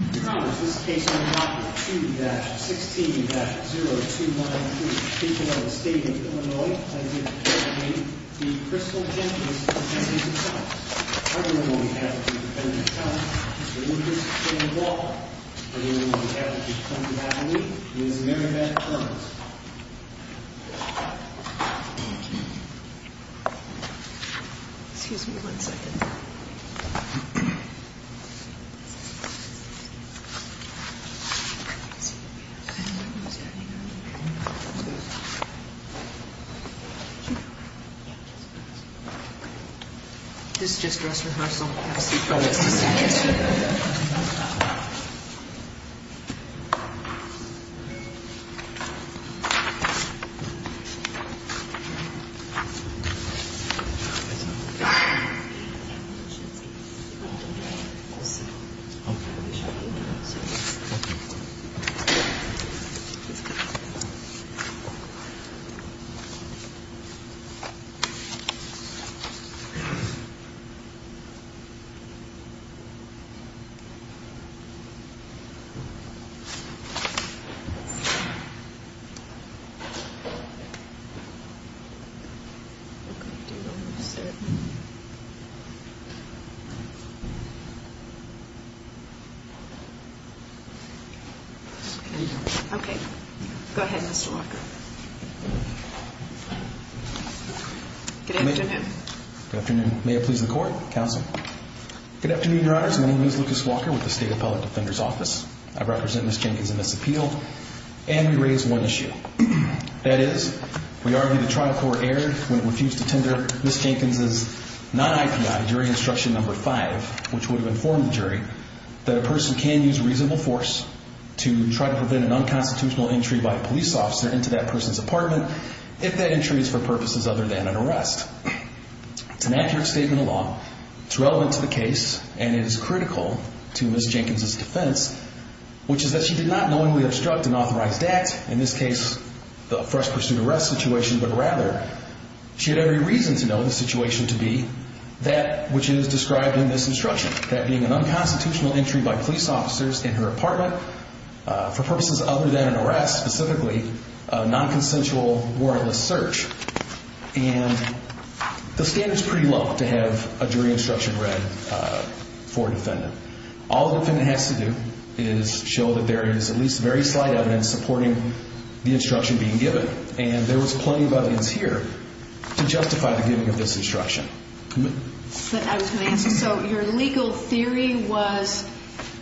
2-16-0293. People of the State of Illinois, I give the floor to the Crystal Jenkins of the State of Columbus. On behalf of the Department of Commerce, Mr. Lucas, Mr. Walker, and on behalf of the County of Abilene, Ms. Mary Beth Cummings. This is just dress rehearsal. Thank you. Thank you. Thank you. Thank you. Thank you. Thank you. Thank you. Thank you. Thank you. Thank you. Thank you. Thank you. Thank you. Thank you. Thank you. Thank you. Thank you. Thank you. Thank you. Okay, go ahead, Mr. Walker. Good afternoon. Good afternoon. May it please the Court, Counsel. Good afternoon, Your Honors. My name is Lucas Walker with the State Appellate Defender's Office. I represent Ms. Jenkins in this appeal, and we raise one issue. That is, we argue the trial court erred when it refused to tender Ms. Jenkins' non-IPI jury instruction number five, which would have informed the jury that a person can use reasonable force to try to prevent an unconstitutional entry by a police officer into that person's apartment if that entry is for purposes other than an arrest. It's an accurate statement of law. It's relevant to the case, and it is critical to Ms. Jenkins' defense, which is that she did not knowingly obstruct an authorized act, in this case the first pursuit arrest situation, but rather she had every reason to know the situation to be that which is described in this instruction, that being an unconstitutional entry by police officers in her apartment for purposes other than an arrest, specifically a nonconsensual warrantless search. And the standard's pretty low to have a jury instruction read for a defendant. All a defendant has to do is show that there is at least very slight evidence supporting the instruction being given. And there was plenty of evidence here to justify the giving of this instruction. I was going to ask, so your legal theory was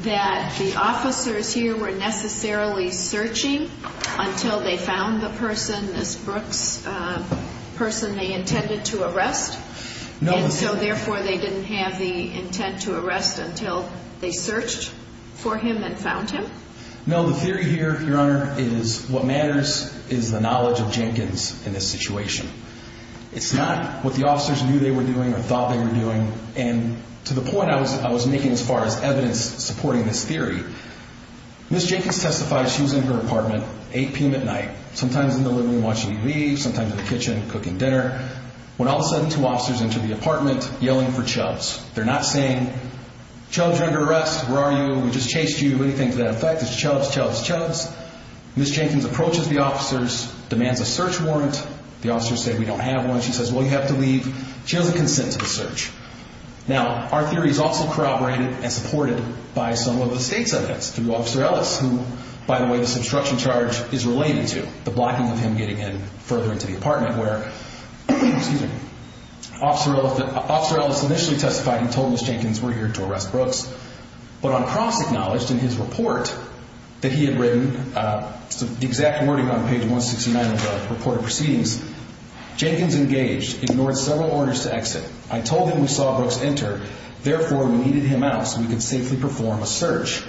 that the officers here were necessarily searching until they found the person, this Brooks person they intended to arrest? And so therefore they didn't have the intent to arrest until they searched for him and found him? No, the theory here, Your Honor, is what matters is the knowledge of Jenkins in this situation. It's not what the officers knew they were doing or thought they were doing, and to the point I was making as far as evidence supporting this theory, Ms. Jenkins testifies she was in her apartment, 8 p.m. at night, sometimes in the living room watching TV, sometimes in the kitchen cooking dinner, when all of a sudden two officers enter the apartment yelling for Chubbs. They're not saying, Chubbs, you're under arrest, where are you? We just chased you. What do you think of that effect? It's Chubbs, Chubbs, Chubbs. Ms. Jenkins approaches the officers, demands a search warrant. The officers say, we don't have one. She says, well, you have to leave. She doesn't consent to the search. Now, our theory is also corroborated and supported by some of the state's evidence through Officer Ellis, who, by the way, this obstruction charge is related to, the blocking of him getting in further into the apartment, where Officer Ellis initially testified and told Ms. Jenkins we're here to arrest Brooks, but on cross-acknowledged in his report that he had written, the exact wording on page 169 of the reported proceedings, Jenkins engaged, ignored several orders to exit. I told him we saw Brooks enter, therefore we needed him out so we could safely perform a search.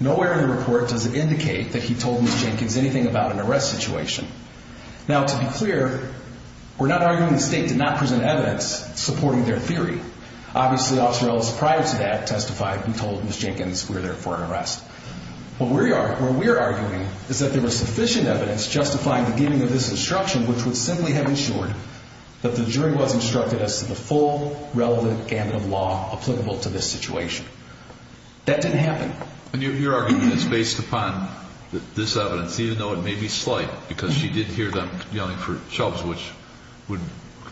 Nowhere in the report does it indicate that he told Ms. Jenkins anything about an arrest situation. Now, to be clear, we're not arguing the state did not present evidence supporting their theory. Obviously, Officer Ellis prior to that testified and told Ms. Jenkins we're there for an arrest. Where we are arguing is that there was sufficient evidence justifying the giving of this instruction, which would simply have ensured that the jury was instructed as to the full relevant gamut of law applicable to this situation. That didn't happen. And your argument is based upon this evidence, even though it may be slight, because she did hear them yelling for shoves, which would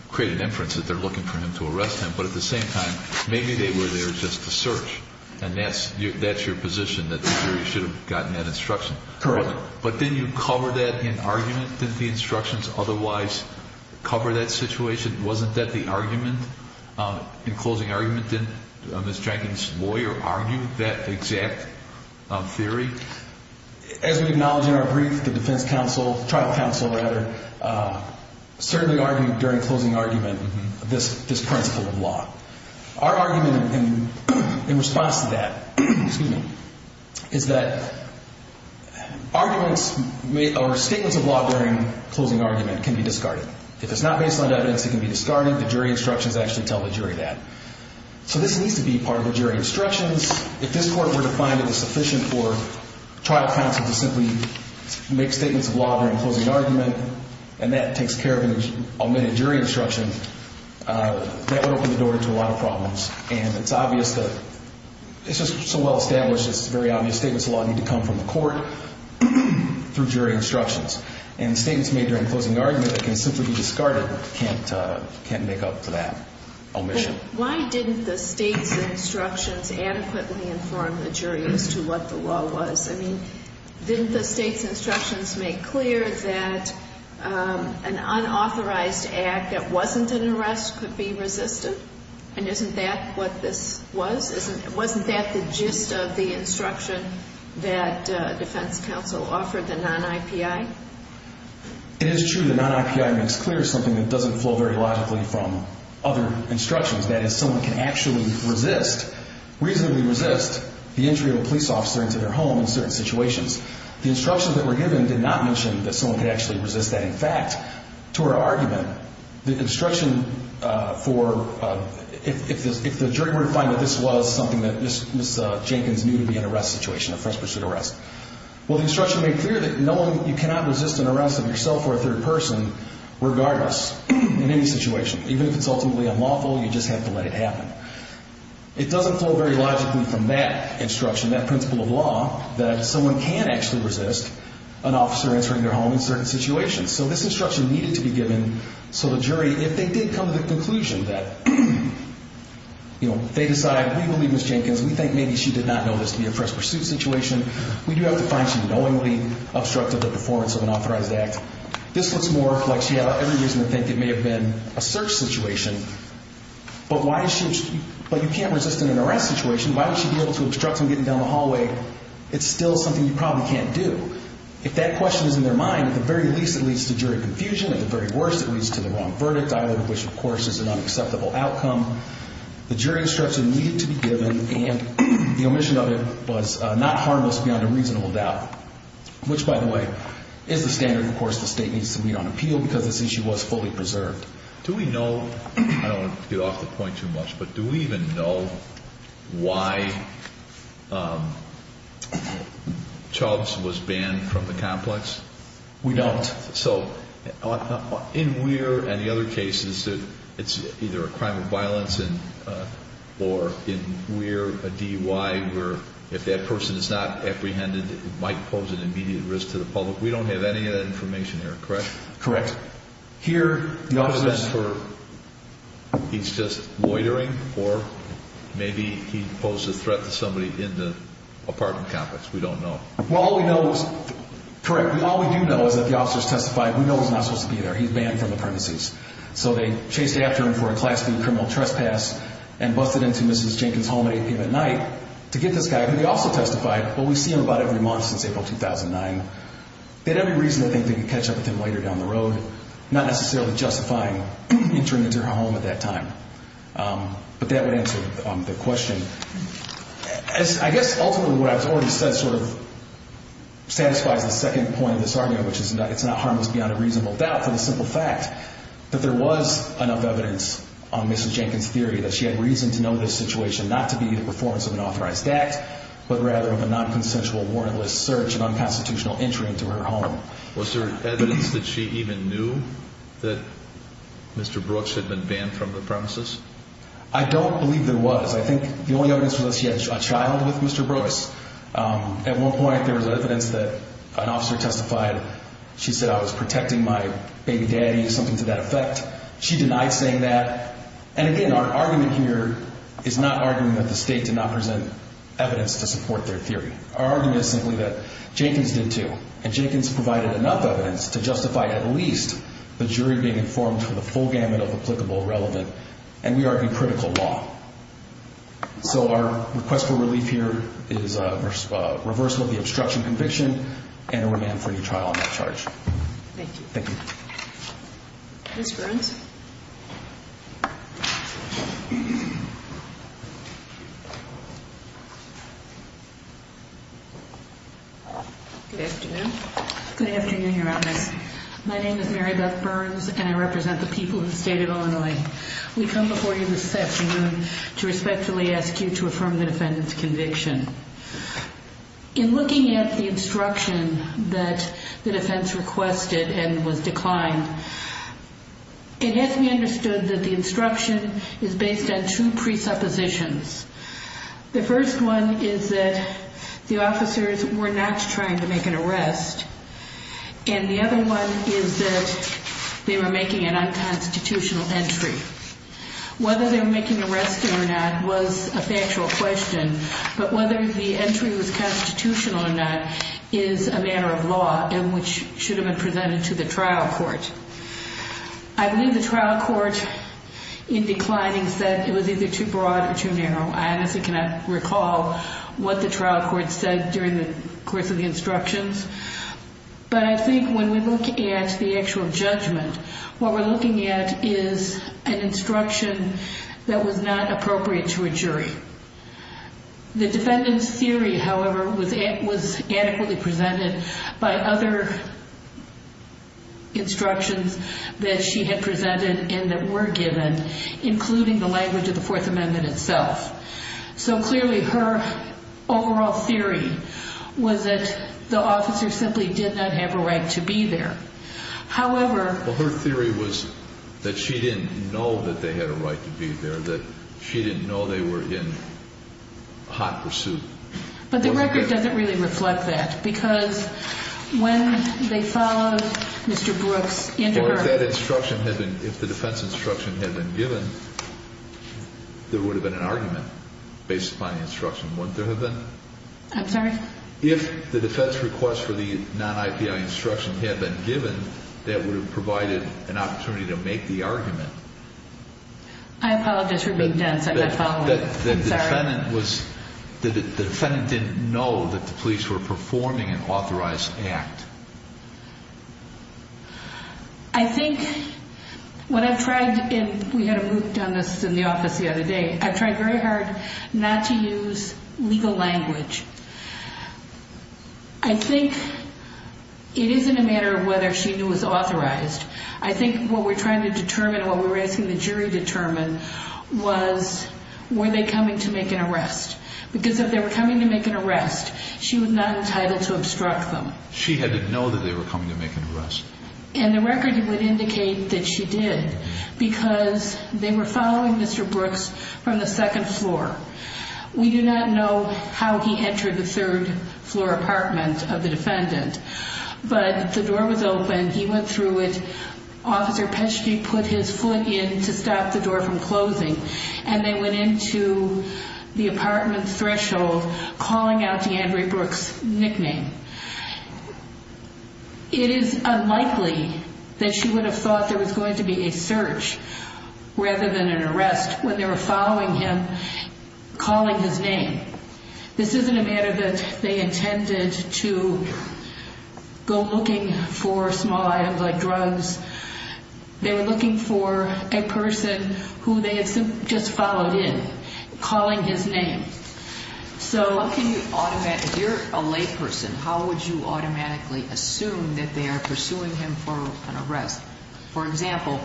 create an inference that they're looking for him to arrest him. But at the same time, maybe they were there just to search. And that's your position, that the jury should have gotten that instruction. Correct. But didn't you cover that in argument in the instructions? Otherwise, cover that situation? Wasn't that the argument? In closing argument, didn't Ms. Jenkins' lawyer argue that exact theory? As we acknowledge in our brief, the defense counsel, tribal counsel rather, certainly argued during closing argument this principle of law. Our argument in response to that is that arguments or statements of law during closing argument can be discarded. If it's not based on evidence, it can be discarded. The jury instructions actually tell the jury that. So this needs to be part of the jury instructions. If this court were to find it is sufficient for trial counsel to simply make statements of law during closing argument, and that takes care of an omitted jury instruction, that would open the door to a lot of problems. And it's obvious that it's just so well established, it's very obvious statements of law need to come from the court through jury instructions. And statements made during closing argument that can simply be discarded can't make up for that omission. Why didn't the state's instructions adequately inform the jury as to what the law was? I mean, didn't the state's instructions make clear that an unauthorized act that wasn't an arrest could be resisted? And isn't that what this was? Wasn't that the gist of the instruction that defense counsel offered, the non-IPI? It is true that non-IPI makes clear something that doesn't flow very logically from other instructions. That is, someone can actually resist, reasonably resist, the entry of a police officer into their home in certain situations. The instructions that were given did not mention that someone could actually resist that. In fact, to our argument, the instruction for, if the jury were to find that this was something that Ms. Jenkins knew to be an arrest situation, a first pursuit arrest, well, the instruction made clear that you cannot resist an arrest of yourself or a third person, regardless, in any situation. Even if it's ultimately unlawful, you just have to let it happen. It doesn't flow very logically from that instruction, that principle of law, that someone can actually resist an officer entering their home in certain situations. So this instruction needed to be given so the jury, if they did come to the conclusion that, you know, they decide, we believe Ms. Jenkins, we think maybe she did not know this to be a first pursuit situation, we do have to find she knowingly obstructed the performance of an authorized act. This looks more like she had every reason to think it may have been a search situation. But you can't resist an arrest situation. Why would she be able to obstruct them getting down the hallway? It's still something you probably can't do. If that question is in their mind, at the very least it leads to jury confusion. At the very worst, it leads to the wrong verdict, which, of course, is an unacceptable outcome. The jury instruction needed to be given, and the omission of it was not harmless beyond a reasonable doubt, which, by the way, is the standard, of course, the State needs to meet on appeal because this issue was fully preserved. Do we know, I don't want to get off the point too much, but do we even know why Chubbs was banned from the complex? We don't. So in Weir and the other cases, it's either a crime of violence or in Weir, a DUI, where if that person is not apprehended, it might pose an immediate risk to the public. We don't have any of that information here, correct? Correct. Here, the officers were... He's just loitering, or maybe he posed a threat to somebody in the apartment complex. We don't know. Well, all we know is, correct, all we do know is that the officers testified. We know he's not supposed to be there. He's banned from the premises. So they chased after him for a Class B criminal trespass and busted into Mrs. Jenkins' home at 8 p.m. at night to get this guy, who they also testified, but we see him about every month since April 2009. They had every reason to think they could catch up with him later down the road, not necessarily justifying entering into her home at that time. But that would answer the question. I guess ultimately what I've already said sort of satisfies the second point of this argument, which is it's not harmless beyond a reasonable doubt for the simple fact that there was enough evidence on Mrs. Jenkins' theory that she had reason to know this situation not to be the performance of an authorized act, but rather of a nonconsensual warrantless search and unconstitutional entry into her home. Was there evidence that she even knew that Mr. Brooks had been banned from the premises? I don't believe there was. I think the only evidence was that she had a child with Mr. Brooks. At one point, there was evidence that an officer testified. She said, I was protecting my baby daddy, something to that effect. She denied saying that. And again, our argument here is not arguing that the state did not present evidence to support their theory. Our argument is simply that Jenkins did, too, and Jenkins provided enough evidence to justify at least the jury being informed of the full gamut of applicable relevant and, we argue, critical law. So our request for relief here is a reversal of the obstruction conviction and a remand for any trial on that charge. Thank you. Thank you. Ms. Burns. Good afternoon. Good afternoon, Your Honor. My name is Mary Beth Burns, and I represent the people of the state of Illinois. We come before you this afternoon to respectfully ask you to affirm the defendant's conviction. In looking at the instruction that the defense requested and was declined, it has to be understood that the instruction is based on two presuppositions. The first one is that the officers were not trying to make an arrest, and the other one is that they were making an unconstitutional entry. Whether they were making an arrest or not was a factual question, but whether the entry was constitutional or not is a matter of law and which should have been presented to the trial court. I believe the trial court, in declining, said it was either too broad or too narrow. I honestly cannot recall what the trial court said during the course of the instructions, but I think when we look at the actual judgment, what we're looking at is an instruction that was not appropriate to a jury. The defendant's theory, however, was adequately presented by other instructions that she had presented and that were given, including the language of the Fourth Amendment itself. So clearly her overall theory was that the officer simply did not have a right to be there. However... Well, her theory was that she didn't know that they had a right to be there, or that she didn't know they were in hot pursuit. But the record doesn't really reflect that because when they followed Mr. Brooks into her... Well, if that instruction had been, if the defense instruction had been given, there would have been an argument based upon the instruction, wouldn't there have been? I'm sorry? If the defense request for the non-IPI instruction had been given, that would have provided an opportunity to make the argument. I apologize for being dense. I'm not following. I'm sorry. The defendant was, the defendant didn't know that the police were performing an authorized act. I think what I've tried, and we had a moot on this in the office the other day, I've tried very hard not to use legal language. I think it isn't a matter of whether she knew it was authorized. I think what we're trying to determine, what we're asking the jury to determine, was were they coming to make an arrest? Because if they were coming to make an arrest, she was not entitled to obstruct them. She had to know that they were coming to make an arrest. And the record would indicate that she did, because they were following Mr. Brooks from the second floor. We do not know how he entered the third floor apartment of the defendant, but the door was open, he went through it, Officer Pesci put his foot in to stop the door from closing, and they went into the apartment threshold, calling out to Andre Brooks' nickname. It is unlikely that she would have thought there was going to be a search, rather than an arrest, when they were following him, calling his name. This isn't a matter that they intended to go looking for small items like drugs. They were looking for a person who they had just followed in, calling his name. If you're a layperson, how would you automatically assume that they are pursuing him for an arrest? For example,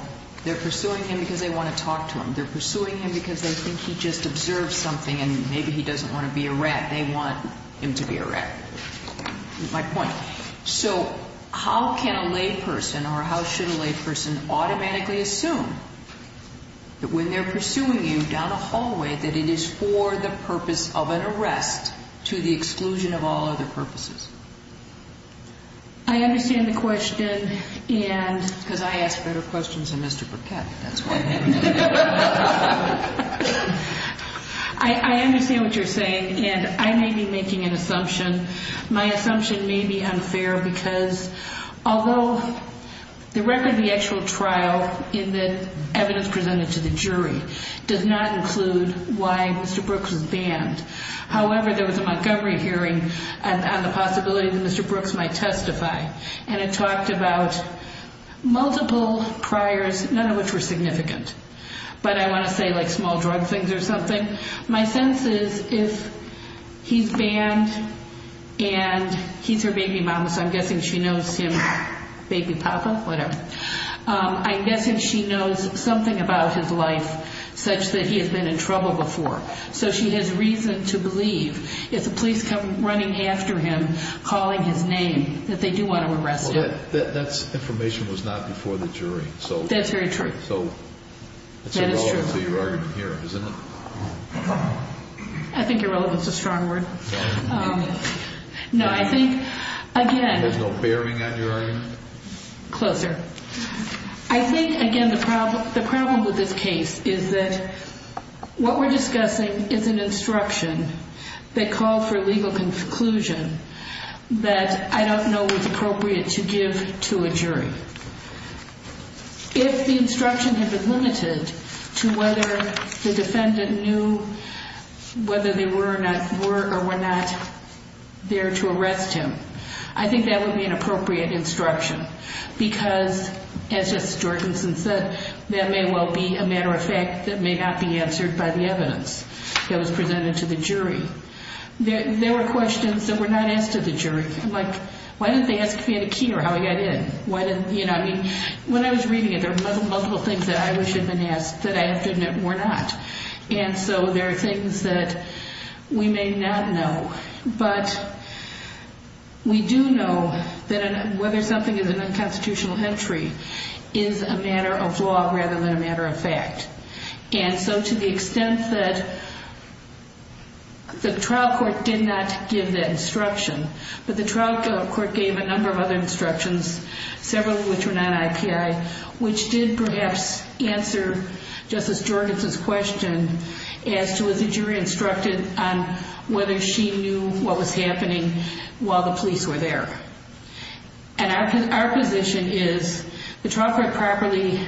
they're pursuing him because they want to talk to him. They're pursuing him because they think he just observed something, and maybe he doesn't want to be a rat. They want him to be a rat. That's my point. So how can a layperson, or how should a layperson, automatically assume that when they're pursuing you down a hallway, that it is for the purpose of an arrest, to the exclusion of all other purposes? I understand the question. Because I ask better questions than Mr. Burkett, that's why. I understand what you're saying, and I may be making an assumption. My assumption may be unfair because although the record of the actual trial in the evidence presented to the jury does not include why Mr. Brooks was banned, however, there was a Montgomery hearing on the possibility that Mr. Brooks might testify, and it talked about multiple priors, none of which were significant, but I want to say like small drug things or something. My sense is if he's banned and he's her baby mama, so I'm guessing she knows him, baby papa, whatever, I'm guessing she knows something about his life such that he has been in trouble before. So she has reason to believe if the police come running after him, calling his name, that they do want to arrest him. Well, that information was not before the jury. That's very true. So it's irrelevant to your argument here, isn't it? I think irrelevant is a strong word. No, I think, again. There's no bearing on your argument? Closer. I think, again, the problem with this case is that what we're discussing is an instruction that called for legal conclusion that I don't know was appropriate to give to a jury. If the instruction had been limited to whether the defendant knew whether they were or were not there to arrest him, I think that would be an appropriate instruction because, as Justice Jorgenson said, that may well be a matter of fact that may not be answered by the evidence that was presented to the jury. There were questions that were not asked to the jury. Like, why didn't they ask if he had a key or how he got in? I mean, when I was reading it, there were multiple things that I wish had been asked that I have to admit were not. And so there are things that we may not know. But we do know that whether something is an unconstitutional entry is a matter of law rather than a matter of fact. And so to the extent that the trial court did not give that instruction, but the trial court gave a number of other instructions, several of which were not IPI, which did perhaps answer Justice Jorgenson's question as to whether the jury instructed on whether she knew what was happening while the police were there. And our position is the trial court properly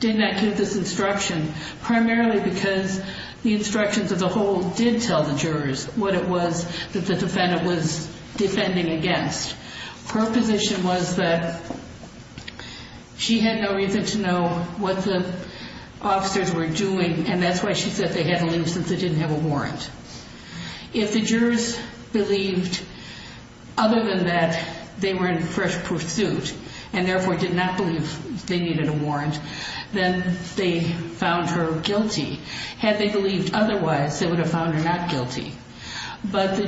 did not give this instruction, primarily because the instructions as a whole did tell the jurors what it was that the defendant was defending against. Her position was that she had no reason to know what the officers were doing, and that's why she said they had to leave since they didn't have a warrant. If the jurors believed other than that they were in fresh pursuit and therefore did not believe they needed a warrant, then they found her guilty. Had they believed otherwise, they would have found her not guilty. But the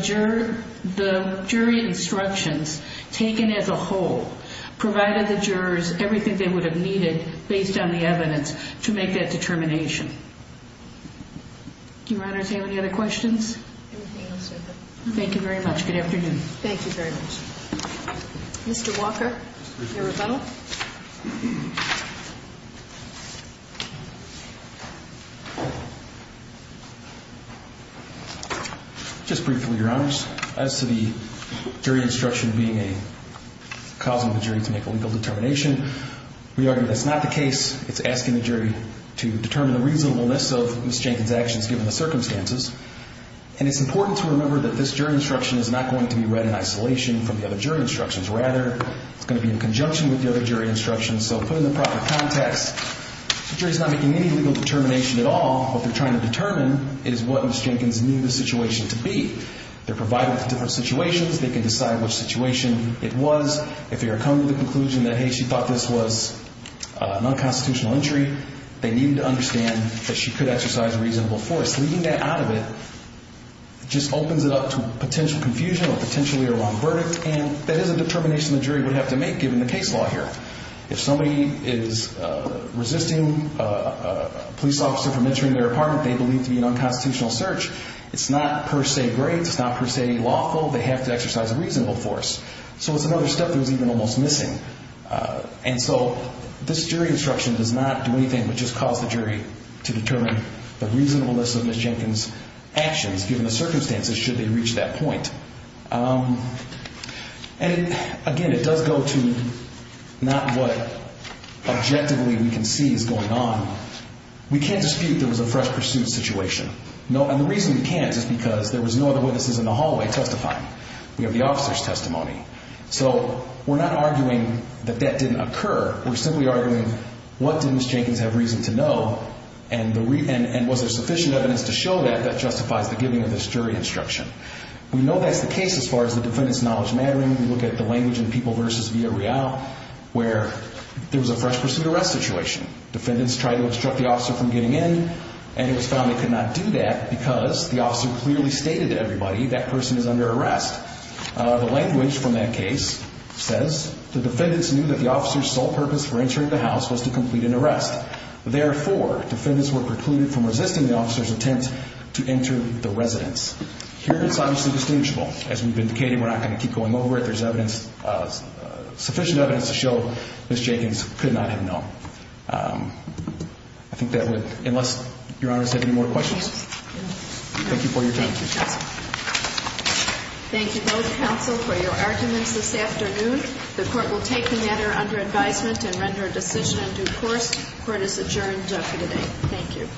jury instructions taken as a whole provided the jurors everything they would have needed based on the evidence to make that determination. Do your honors have any other questions? Everything else is open. Thank you very much. Good afternoon. Thank you very much. Mr. Walker, your rebuttal. Just briefly, your honors, as to the jury instruction being a cause of the jury to make a legal determination, we argue that's not the case. It's asking the jury to determine the reasonableness of Ms. Jenkins' actions given the circumstances. And it's important to remember that this jury instruction is not going to be read in isolation from the other jury instructions. Rather, it's going to be in conjunction with the other jury instructions. So put in the proper context, the jury's not making any legal determination at all. What they're trying to determine is what Ms. Jenkins knew the situation to be. They're provided with different situations. They can decide which situation it was. If they are coming to the conclusion that, hey, she thought this was an unconstitutional injury, they need to understand that she could exercise reasonable force. Leaving that out of it just opens it up to potential confusion or potentially a wrong verdict, and that is a determination the jury would have to make given the case law here. If somebody is resisting a police officer from entering their apartment they believe to be an unconstitutional search, it's not per se great. It's not per se lawful. They have to exercise reasonable force. So it's another step that was even almost missing. And so this jury instruction does not do anything but just cause the jury to determine the reasonableness of Ms. Jenkins' actions given the circumstances should they reach that point. And, again, it does go to not what objectively we can see is going on. We can't dispute there was a fresh pursuit situation. And the reason we can't is because there was no other witnesses in the hallway testifying. We have the officer's testimony. So we're not arguing that that didn't occur. We're simply arguing what did Ms. Jenkins have reason to know and was there sufficient evidence to show that that justifies the giving of this jury instruction. We know that's the case as far as the defendant's knowledge mattering. We look at the language in People v. Villarreal where there was a fresh pursuit arrest situation. Defendants tried to obstruct the officer from getting in and it was found they could not do that because the officer clearly stated to everybody that person is under arrest. The language from that case says the defendants knew that the officer's sole purpose for entering the house was to complete an arrest. Therefore, defendants were precluded from resisting the officer's attempt to enter the residence. Here it's obviously distinguishable. As we've indicated, we're not going to keep going over it. There's sufficient evidence to show Ms. Jenkins could not have known. I think that would, unless Your Honors have any more questions. Thank you for your time. Thank you both counsel for your arguments this afternoon. The court will take the matter under advisement and render a decision in due course. Court is adjourned for today. Thank you.